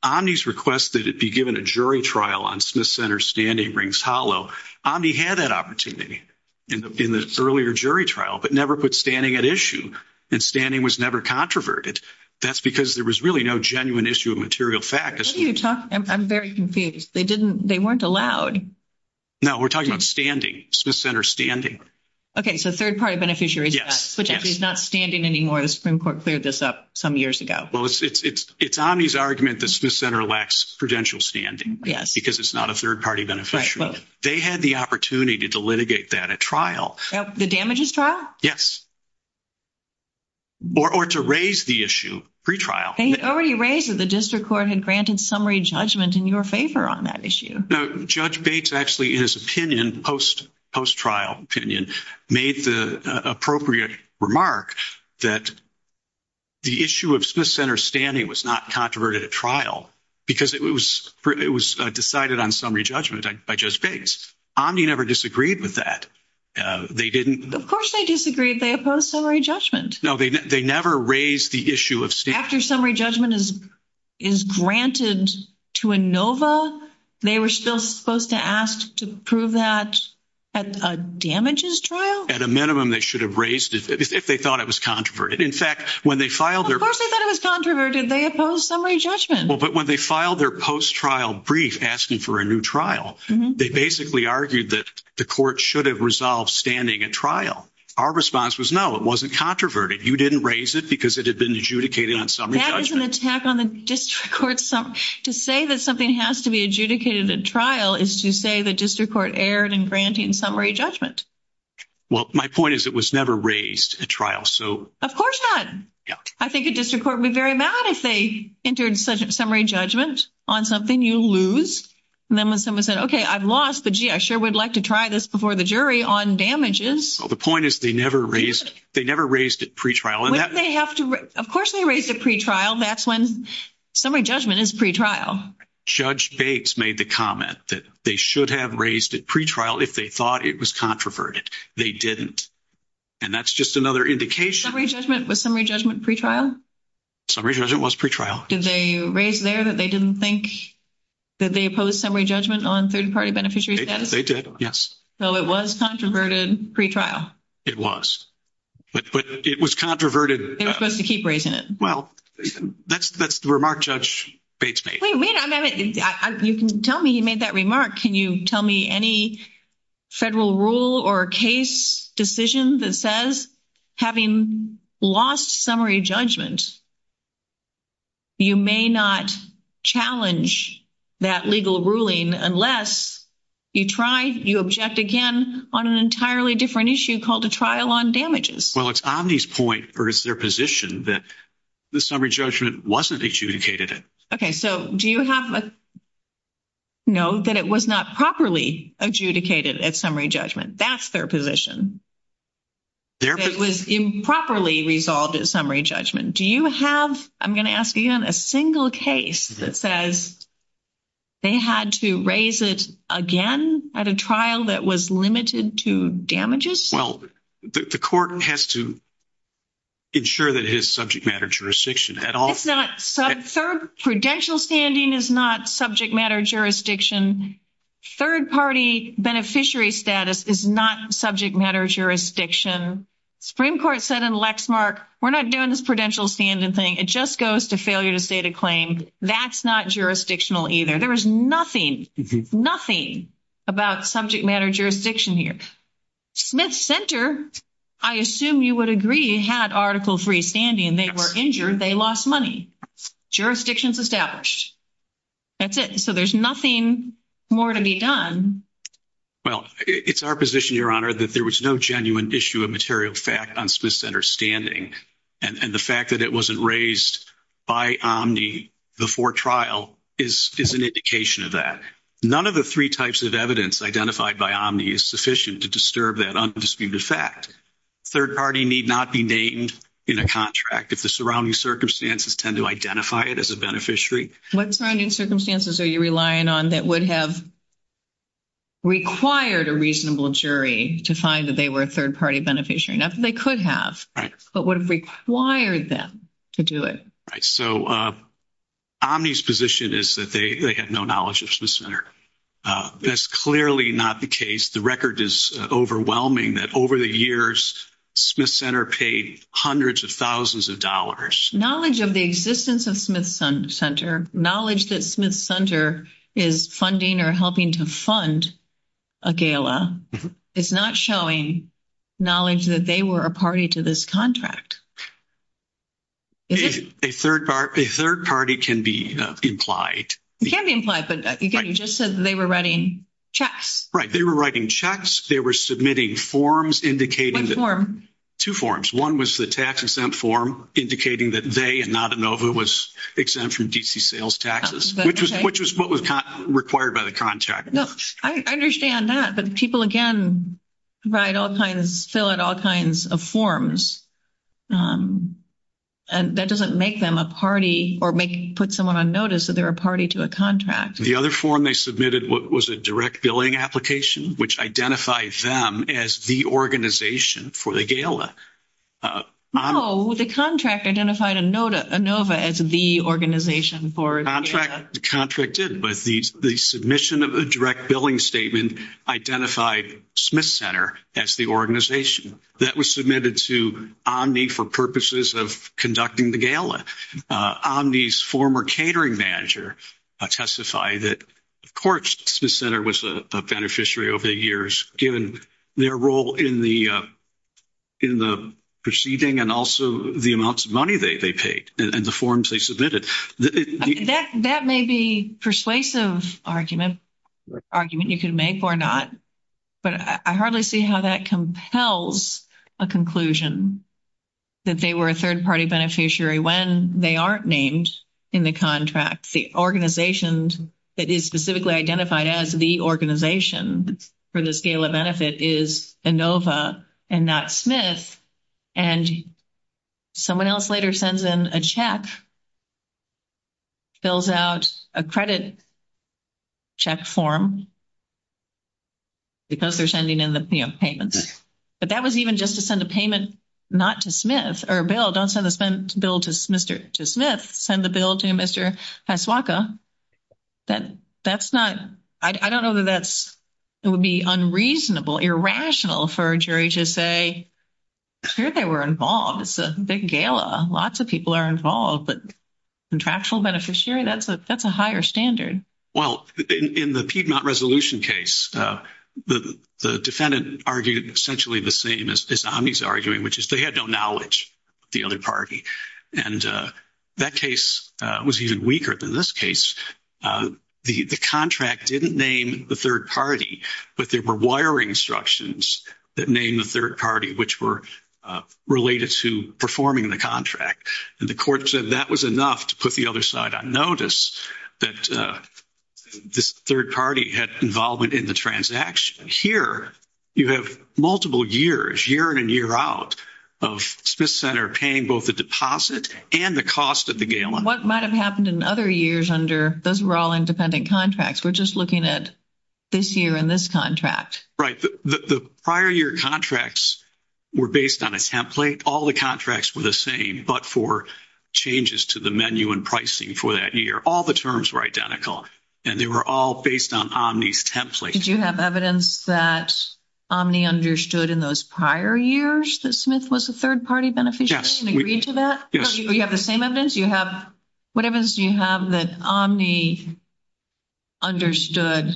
Omni's request that it be given a jury trial on Smith Center standing rings hollow. Omni had that opportunity in the earlier jury trial, but never put standing at issue and standing was never controverted. That's because there was really no genuine issue of material fact. I'm very confused. They didn't, they weren't allowed. No, we're talking about standing, Smith Center standing. Okay. So third party beneficiaries, which is not standing anymore. The Supreme Court cleared this up some years ago. Well, it's Omni's argument that Smith Center lacks prudential standing. Yes. Because it's not a third party beneficiary. They had the opportunity to litigate that at trial. The damages trial? Or to raise the issue pre-trial. They had already raised it. The district court had granted summary judgment in your favor on that issue. No, Judge Bates actually, in his opinion, post-trial opinion, made the appropriate remark that the issue of Smith Center standing was not controverted at trial because it was decided on summary judgment by Judge Bates. Omni never disagreed with that. Of course they disagreed. They opposed summary judgment. No, they never raised the issue of standing. After summary judgment is granted to Inova, they were still supposed to ask to prove that at a damages trial? At a minimum, they should have raised it if they thought it was controverted. In fact, when they filed their- Of course they thought it was controverted. They opposed summary judgment. Well, but when they filed their post-trial brief asking for a new trial, they basically argued that the court should have resolved standing at trial. Our response was, no, it wasn't controverted. You didn't raise it because it had been adjudicated on summary judgment. That is an attack on the district court. To say that something has to be adjudicated at trial is to say the district court erred in granting summary judgment. Well, my point is it was never raised at trial, so- Of course not. I think a district court would be very mad if they entered summary judgment on something you lose. And then when someone said, okay, I've lost, but gee, I sure would like to try this before the jury on damages. Well, the point is they never raised it pre-trial. Wouldn't they have to- Of course they raised it pre-trial. That's when summary judgment is pre-trial. Judge Bates made the comment that they should have raised it pre-trial if they thought it was controverted. They didn't. And that's just another indication- Summary judgment, was summary judgment pre-trial? Summary judgment was pre-trial. Did they raise there that they didn't think, that they opposed summary judgment on third-party beneficiary status? They did, yes. So it was controverted pre-trial? It was, but it was controverted- They're supposed to keep raising it. Well, that's the remark Judge Bates made. Wait a minute, you can tell me he made that remark. Can you tell me any federal rule or case decision that says, having lost summary judgment, you may not challenge that legal ruling unless you try, you object again on an entirely different issue called a trial on damages? Well, it's Omni's point, or it's their position, that the summary judgment wasn't adjudicated. Okay, so do you have a- No, that it was not properly adjudicated at summary judgment. That's their position. That it was improperly resolved at summary judgment. Do you have, I'm going to ask again, a single case that says, they had to raise it again at a trial that was limited to damages? Well, the court has to ensure that it is subject matter jurisdiction at all. It's not, third prudential standing is not subject matter jurisdiction. Third party beneficiary status is not subject matter jurisdiction. Supreme Court said in Lexmark, we're not doing this prudential standing thing. It just goes to failure to state a claim. That's not jurisdictional either. There is nothing, nothing about subject matter jurisdiction here. Smith Center, I assume you would agree, had Article III standing. They were injured. They lost money. Jurisdiction's established. That's it. There's nothing more to be done. Well, it's our position, Your Honor, that there was no genuine issue of material fact on Smith Center's standing. The fact that it wasn't raised by Omni before trial is an indication of that. None of the three types of evidence identified by Omni is sufficient to disturb that undisputed fact. Third party need not be named in a contract if the surrounding circumstances tend to identify it as a beneficiary. What surrounding circumstances are you relying on that would have required a reasonable jury to find that they were a third party beneficiary? Not that they could have, but would have required them to do it. Right. So Omni's position is that they had no knowledge of Smith Center. That's clearly not the case. The record is overwhelming that over the years, Smith Center paid hundreds of thousands of dollars. Knowledge of the existence of Smith Center, knowledge that Smith Center is funding or helping to fund a gala, is not showing knowledge that they were a party to this contract. A third party can be implied. It can be implied, but you just said that they were writing checks. Right. They were writing checks. They were submitting forms indicating... What form? Two forms. One was the tax-exempt form indicating that they, and not ANOVA, was exempt from D.C. sales taxes, which was what was required by the contract. No, I understand that, but people, again, fill out all kinds of forms. That doesn't make them a party or put someone on notice that they're a party to a contract. The other form they submitted was a direct billing application, which identified them as the organization for the gala. No, the contract identified ANOVA as the organization for the gala. Contract did, but the submission of a direct billing statement identified Smith Center as the organization. That was submitted to Omni for purposes of conducting the gala. Omni's former catering manager testified that, of course, Smith Center was a beneficiary over the years, given their role in the proceeding and also the amounts of money they paid and the forms they submitted. That may be a persuasive argument you can make or not, but I hardly see how that compels a conclusion that they were a third-party beneficiary when they aren't named in the contract. The organization that is specifically identified as the organization for this gala benefit is ANOVA and not Smith, and someone else later sends in a check, fills out a credit check form because they're sending in the payments. But that was even just to send a payment not to Smith or a bill. Don't send the bill to Smith. Send the bill to Mr. Pasuaka. That's not, I don't know that that's, it would be unreasonable, irrational for a jury to say, sure, they were involved. It's a big gala. Lots of people are involved, but contractual beneficiary, that's a higher standard. Well, in the Piedmont Resolution case, the defendant argued essentially the same as Omni's arguing, which is they had no knowledge of the other party. And that case was even weaker than this case. The contract didn't name the third party, but there were wiring instructions that named the third party, which were related to performing the contract. And the court said that was enough to put the other side on notice that this third party had involvement in the transaction. Here, you have multiple years, year in and year out, of Smith Center paying both the deposit and the cost of the gala. What might have happened in other years under, those were all independent contracts. We're just looking at this year in this contract. Right. The prior year contracts were based on a template. All the contracts were the same, but for changes to the menu and pricing for that year, all the terms were identical and they were all based on Omni's template. Did you have evidence that Omni understood in those prior years that Smith was a third party beneficiary and agreed to that? Yes. You have the same evidence? What evidence do you have that Omni understood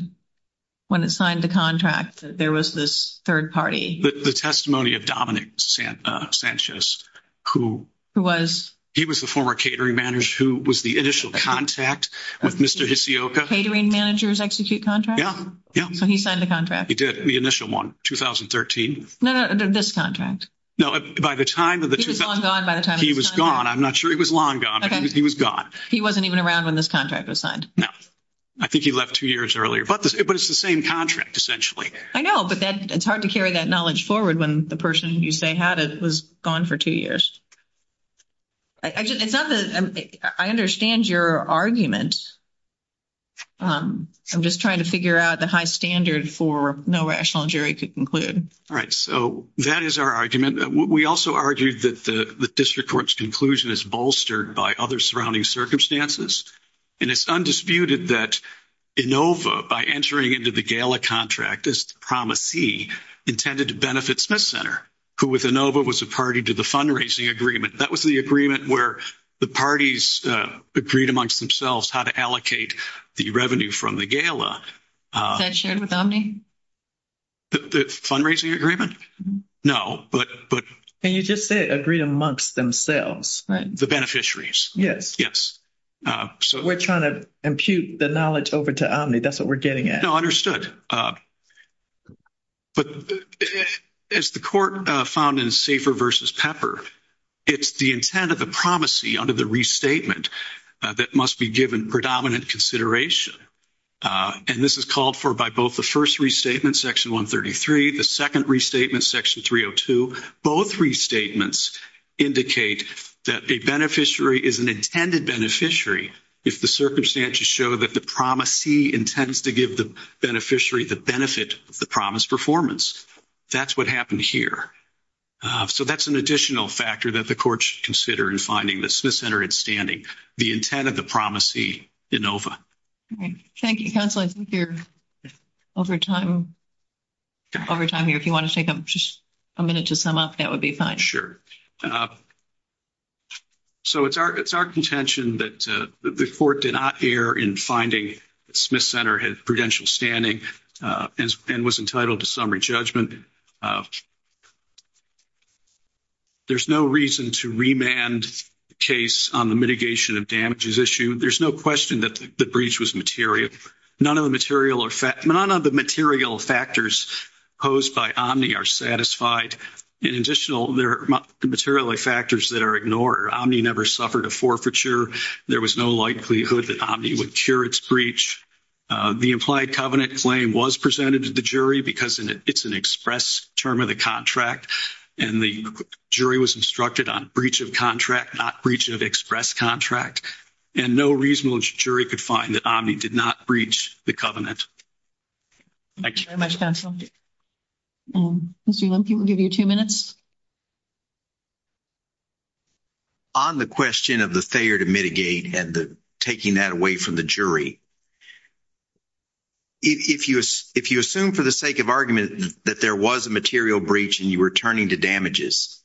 when it signed the contract that there was this third party? The testimony of Dominic Sanchez, who... Who was? He was the former catering manager, who was the initial contact with Mr. Hisioka. Catering managers execute contracts? Yeah, yeah. So he signed the contract? He did. The initial one, 2013. No, no, this contract. No, by the time of the... He was long gone by the time... He was gone. I'm not sure he was long gone, but he was gone. He wasn't even around when this contract was signed. No. I think he left two years earlier, but it's the same contract, essentially. I know, but it's hard to carry that knowledge forward when the person you say had it was gone for two years. It's not that... I understand your argument. I'm just trying to figure out the high standard for no rational jury could conclude. All right. So that is our argument. We also argued that the district court's conclusion is bolstered by other surrounding circumstances. And it's undisputed that Inova, by entering into the GALA contract as the promisee, intended to benefit Smith Center, who with Inova was a party to the fundraising agreement. That was the agreement where the parties agreed amongst themselves how to allocate the revenue from the GALA. Is that shared with Omni? The fundraising agreement? No, but... And you just said agreed amongst themselves, right? The beneficiaries. Yes. Yes. So... We're trying to impute the knowledge over to Omni. That's what we're getting at. No, understood. But as the court found in Safer versus Pepper, it's the intent of the promisee under the restatement that must be given predominant consideration. And this is called for by both the first restatement, section 133, the second restatement, section 302. Both restatements indicate that a beneficiary is an intended beneficiary if the circumstances show that the promisee intends to give the beneficiary the benefit of the promised performance. That's what happened here. So that's an additional factor that the court should consider in finding that Smith Center had standing. The intent of the promisee in OVA. Thank you, counsel. I think you're over time. Over time here, if you want to take a minute to sum up, that would be fine. So it's our contention that the court did not err in finding that Smith Center had prudential standing and was entitled to summary judgment. There's no reason to remand the case on the mitigation of damages issue. There's no question that the breach was material. None of the material factors posed by Omni are satisfied. In addition, there are material factors that are ignored. Omni never suffered a forfeiture. There was no likelihood that Omni would cure its breach. The implied covenant claim was presented to the jury because it's an experiment. It's an express term of the contract. And the jury was instructed on breach of contract, not breach of express contract. And no reasonable jury could find that Omni did not breach the covenant. Thank you very much, counsel. Mr. Lempke, we'll give you two minutes. On the question of the failure to mitigate and the taking that away from the jury, if you assume for the sake of argument that there was a material breach and you were turning to damages,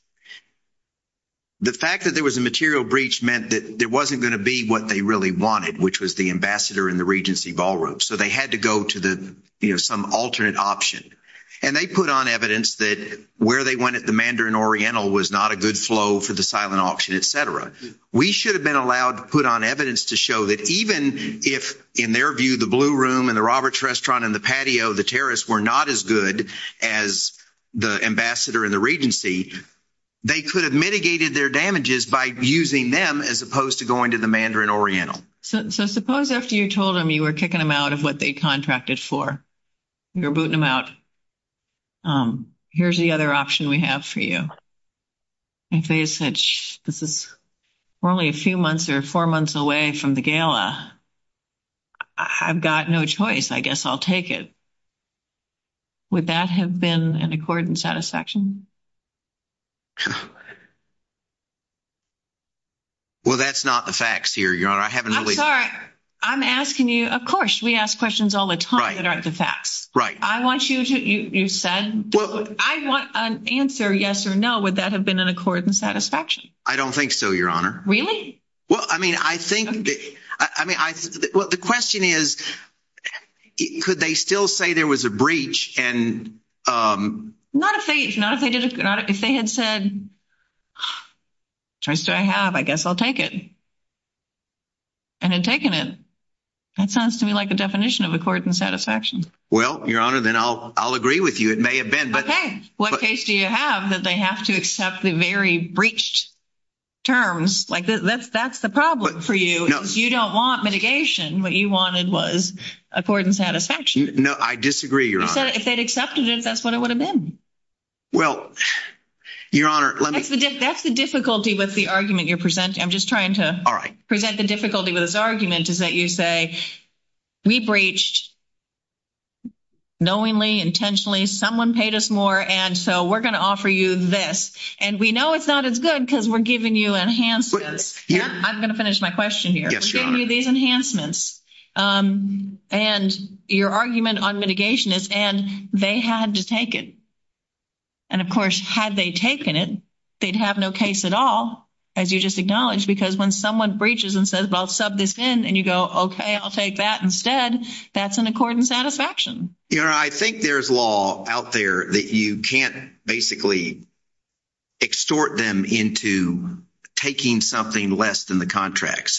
the fact that there was a material breach meant that there wasn't going to be what they really wanted, which was the ambassador in the Regency ballroom. So they had to go to some alternate option. And they put on evidence that where they went at the Mandarin Oriental was not a good flow for the silent auction, et cetera. We should have been allowed to put on evidence to show that even if, in their view, the Blue Room and the Roberts Restaurant and the patio, the terrace were not as good as the ambassador in the Regency, they could have mitigated their damages by using them as opposed to going to the Mandarin Oriental. So suppose after you told them you were kicking them out of what they contracted for, you're booting them out. Here's the other option we have for you. This is only a few months or four months away from the gala. I've got no choice. I guess I'll take it. Would that have been an accord and satisfaction? Well, that's not the facts here, Your Honor. I haven't really... I'm asking you, of course, we ask questions all the time that aren't the facts. Right. I want you to, you said, I want an answer, yes or no. Would that have been an accord and satisfaction? I don't think so, Your Honor. Well, I mean, I think, I mean, well, the question is, could they still say there was a breach and... Not if they had said, choice do I have? I guess I'll take it. And had taken it. That sounds to me like a definition of accord and satisfaction. Well, Your Honor, then I'll agree with you. It may have been, but... What case do you have that they have to accept the very breached terms? That's the problem for you. You don't want mitigation. What you wanted was accord and satisfaction. No, I disagree, Your Honor. If they'd accepted it, that's what it would have been. Well, Your Honor, let me... That's the difficulty with the argument you're presenting. I'm just trying to... All right. ...present the difficulty with this argument is that you say, we breached knowingly, intentionally, someone paid us more. And so we're going to offer you this. And we know it's not as good because we're giving you enhancements. I'm going to finish my question here. Yes, Your Honor. We're giving you these enhancements. And your argument on mitigation is, and they had to take it. And of course, had they taken it, they'd have no case at all, as you just acknowledged. Because when someone breaches and says, well, I'll sub this in. And you go, okay, I'll take that instead. That's an accord and satisfaction. Your Honor, I think there's law out there that you can't basically extort them into taking something less than the contract.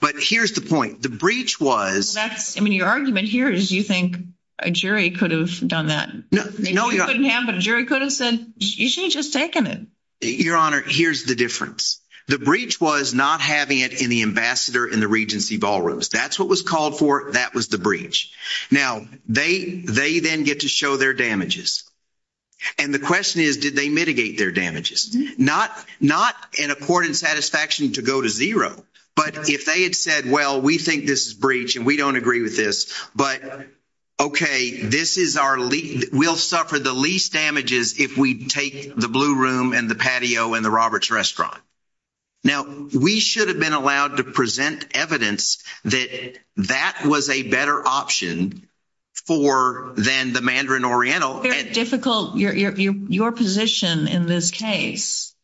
But here's the point. The breach was... I mean, your argument here is you think a jury could have done that. No, Your Honor. Maybe you couldn't have, but a jury could have said, you should have just taken it. Your Honor, here's the difference. The breach was not having it in the ambassador in the Regency Ballrooms. That's what was called for. That was the breach. Now, they then get to show their damages. And the question is, did they mitigate their damages? Not an accord and satisfaction to go to zero. But if they had said, well, we think this is breach and we don't agree with this. But, okay, this is our... We'll suffer the least damages if we take the Blue Room and the patio and the Roberts Restaurant. Now, we should have been allowed to present evidence that that was a better option for than the Mandarin Oriental. It's very difficult. Your position in this case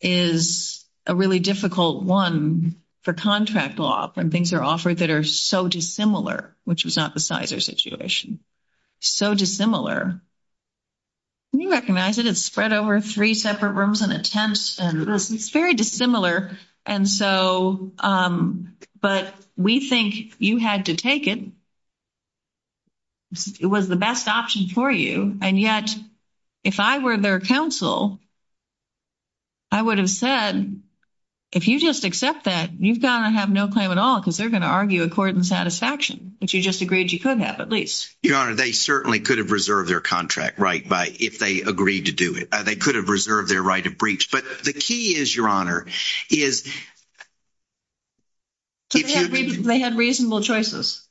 is a really difficult one for contract law when things are offered that are so dissimilar, which was not the Cizer situation. So dissimilar. Can you recognize it? Spread over three separate rooms and a tent. It's very dissimilar. But we think you had to take it. It was the best option for you. And yet, if I were their counsel, I would have said, if you just accept that, you've got to have no claim at all because they're going to argue accord and satisfaction, which you just agreed you could have, at least. Your Honor, they certainly could have reserved their contract, right, if they agreed to do it. They could have reserved their right of breach. But the key is, Your Honor, is... They had reasonable choices.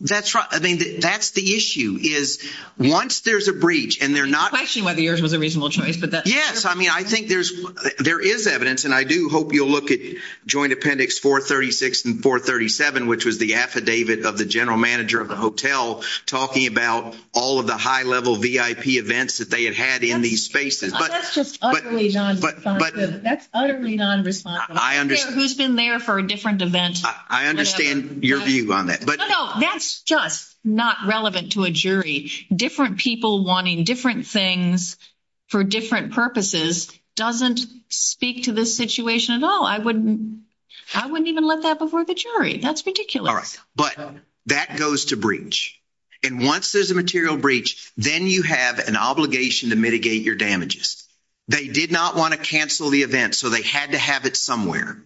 That's right. I mean, that's the issue is once there's a breach and they're not... I question whether yours was a reasonable choice, but that's... Yes. I mean, I think there is evidence. And I do hope you'll look at Joint Appendix 436 and 437, which was the affidavit of the general manager of the hotel talking about all of the high-level VIP events that they had had in these spaces. That's just utterly non-responsive. That's utterly non-responsive. I understand. Who's been there for a different event? I understand your view on that. No, no. That's just not relevant to a jury. Different people wanting different things for different purposes doesn't speak to this situation at all. I wouldn't even let that before the jury. That's ridiculous. All right. That goes to breach. And once there's a material breach, then you have an obligation to mitigate your damages. They did not want to cancel the event, so they had to have it somewhere.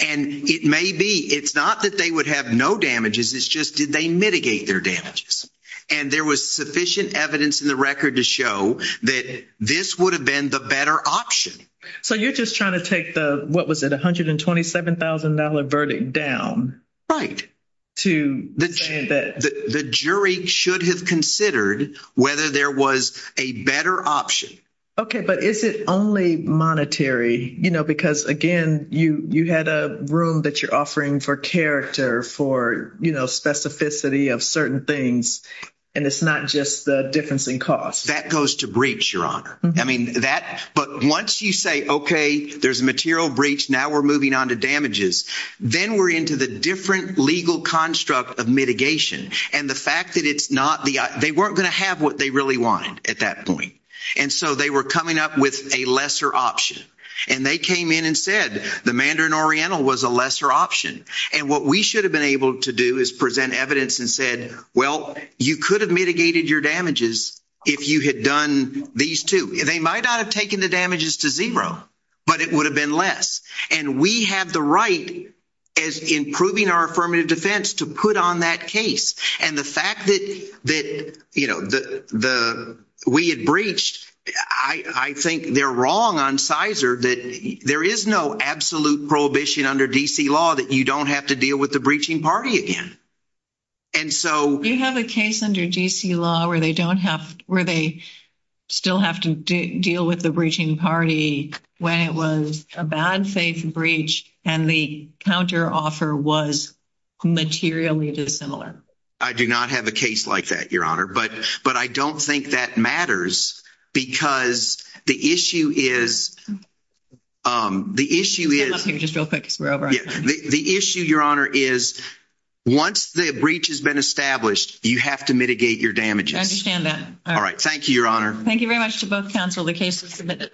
And it may be... It's not that they would have no damages. It's just, did they mitigate their damages? And there was sufficient evidence in the record to show that this would have been the better option. So you're just trying to take the... What was it? $127,000 verdict down. Right. To saying that... The jury should have considered whether there was a better option. Okay. But is it only monetary? You know, because again, you had a room that you're offering for character, for, you know, specificity of certain things. And it's not just the difference in cost. That goes to breach, Your Honor. I mean, that... But once you say, okay, there's a material breach, now we're moving on to damages. Then we're into the different legal construct of mitigation. And the fact that it's not the... They weren't going to have what they really wanted at that point. And so they were coming up with a lesser option. And they came in and said the Mandarin Oriental was a lesser option. And what we should have been able to do is present evidence and said, well, you could have mitigated your damages if you had done these two. They might not have taken the damages to zero, but it would have been less. And we have the right as improving our affirmative defense to put on that case. And the fact that, you know, we had breached, I think they're wrong on CISR that there is no absolute prohibition under D.C. law that you don't have to deal with the breaching party again. And so... You have a case under D.C. law where they don't have... Where they still have to deal with the breaching party when it was a bad faith breach and the counteroffer was materially dissimilar. I do not have a case like that, Your Honor. But I don't think that matters because the issue is... The issue is... Stand up here just real quick because we're over on time. The issue, Your Honor, is once the breach has been established, you have to mitigate your damages. I understand that. All right. Thank you, Your Honor. Thank you very much to both counsel. The case is submitted.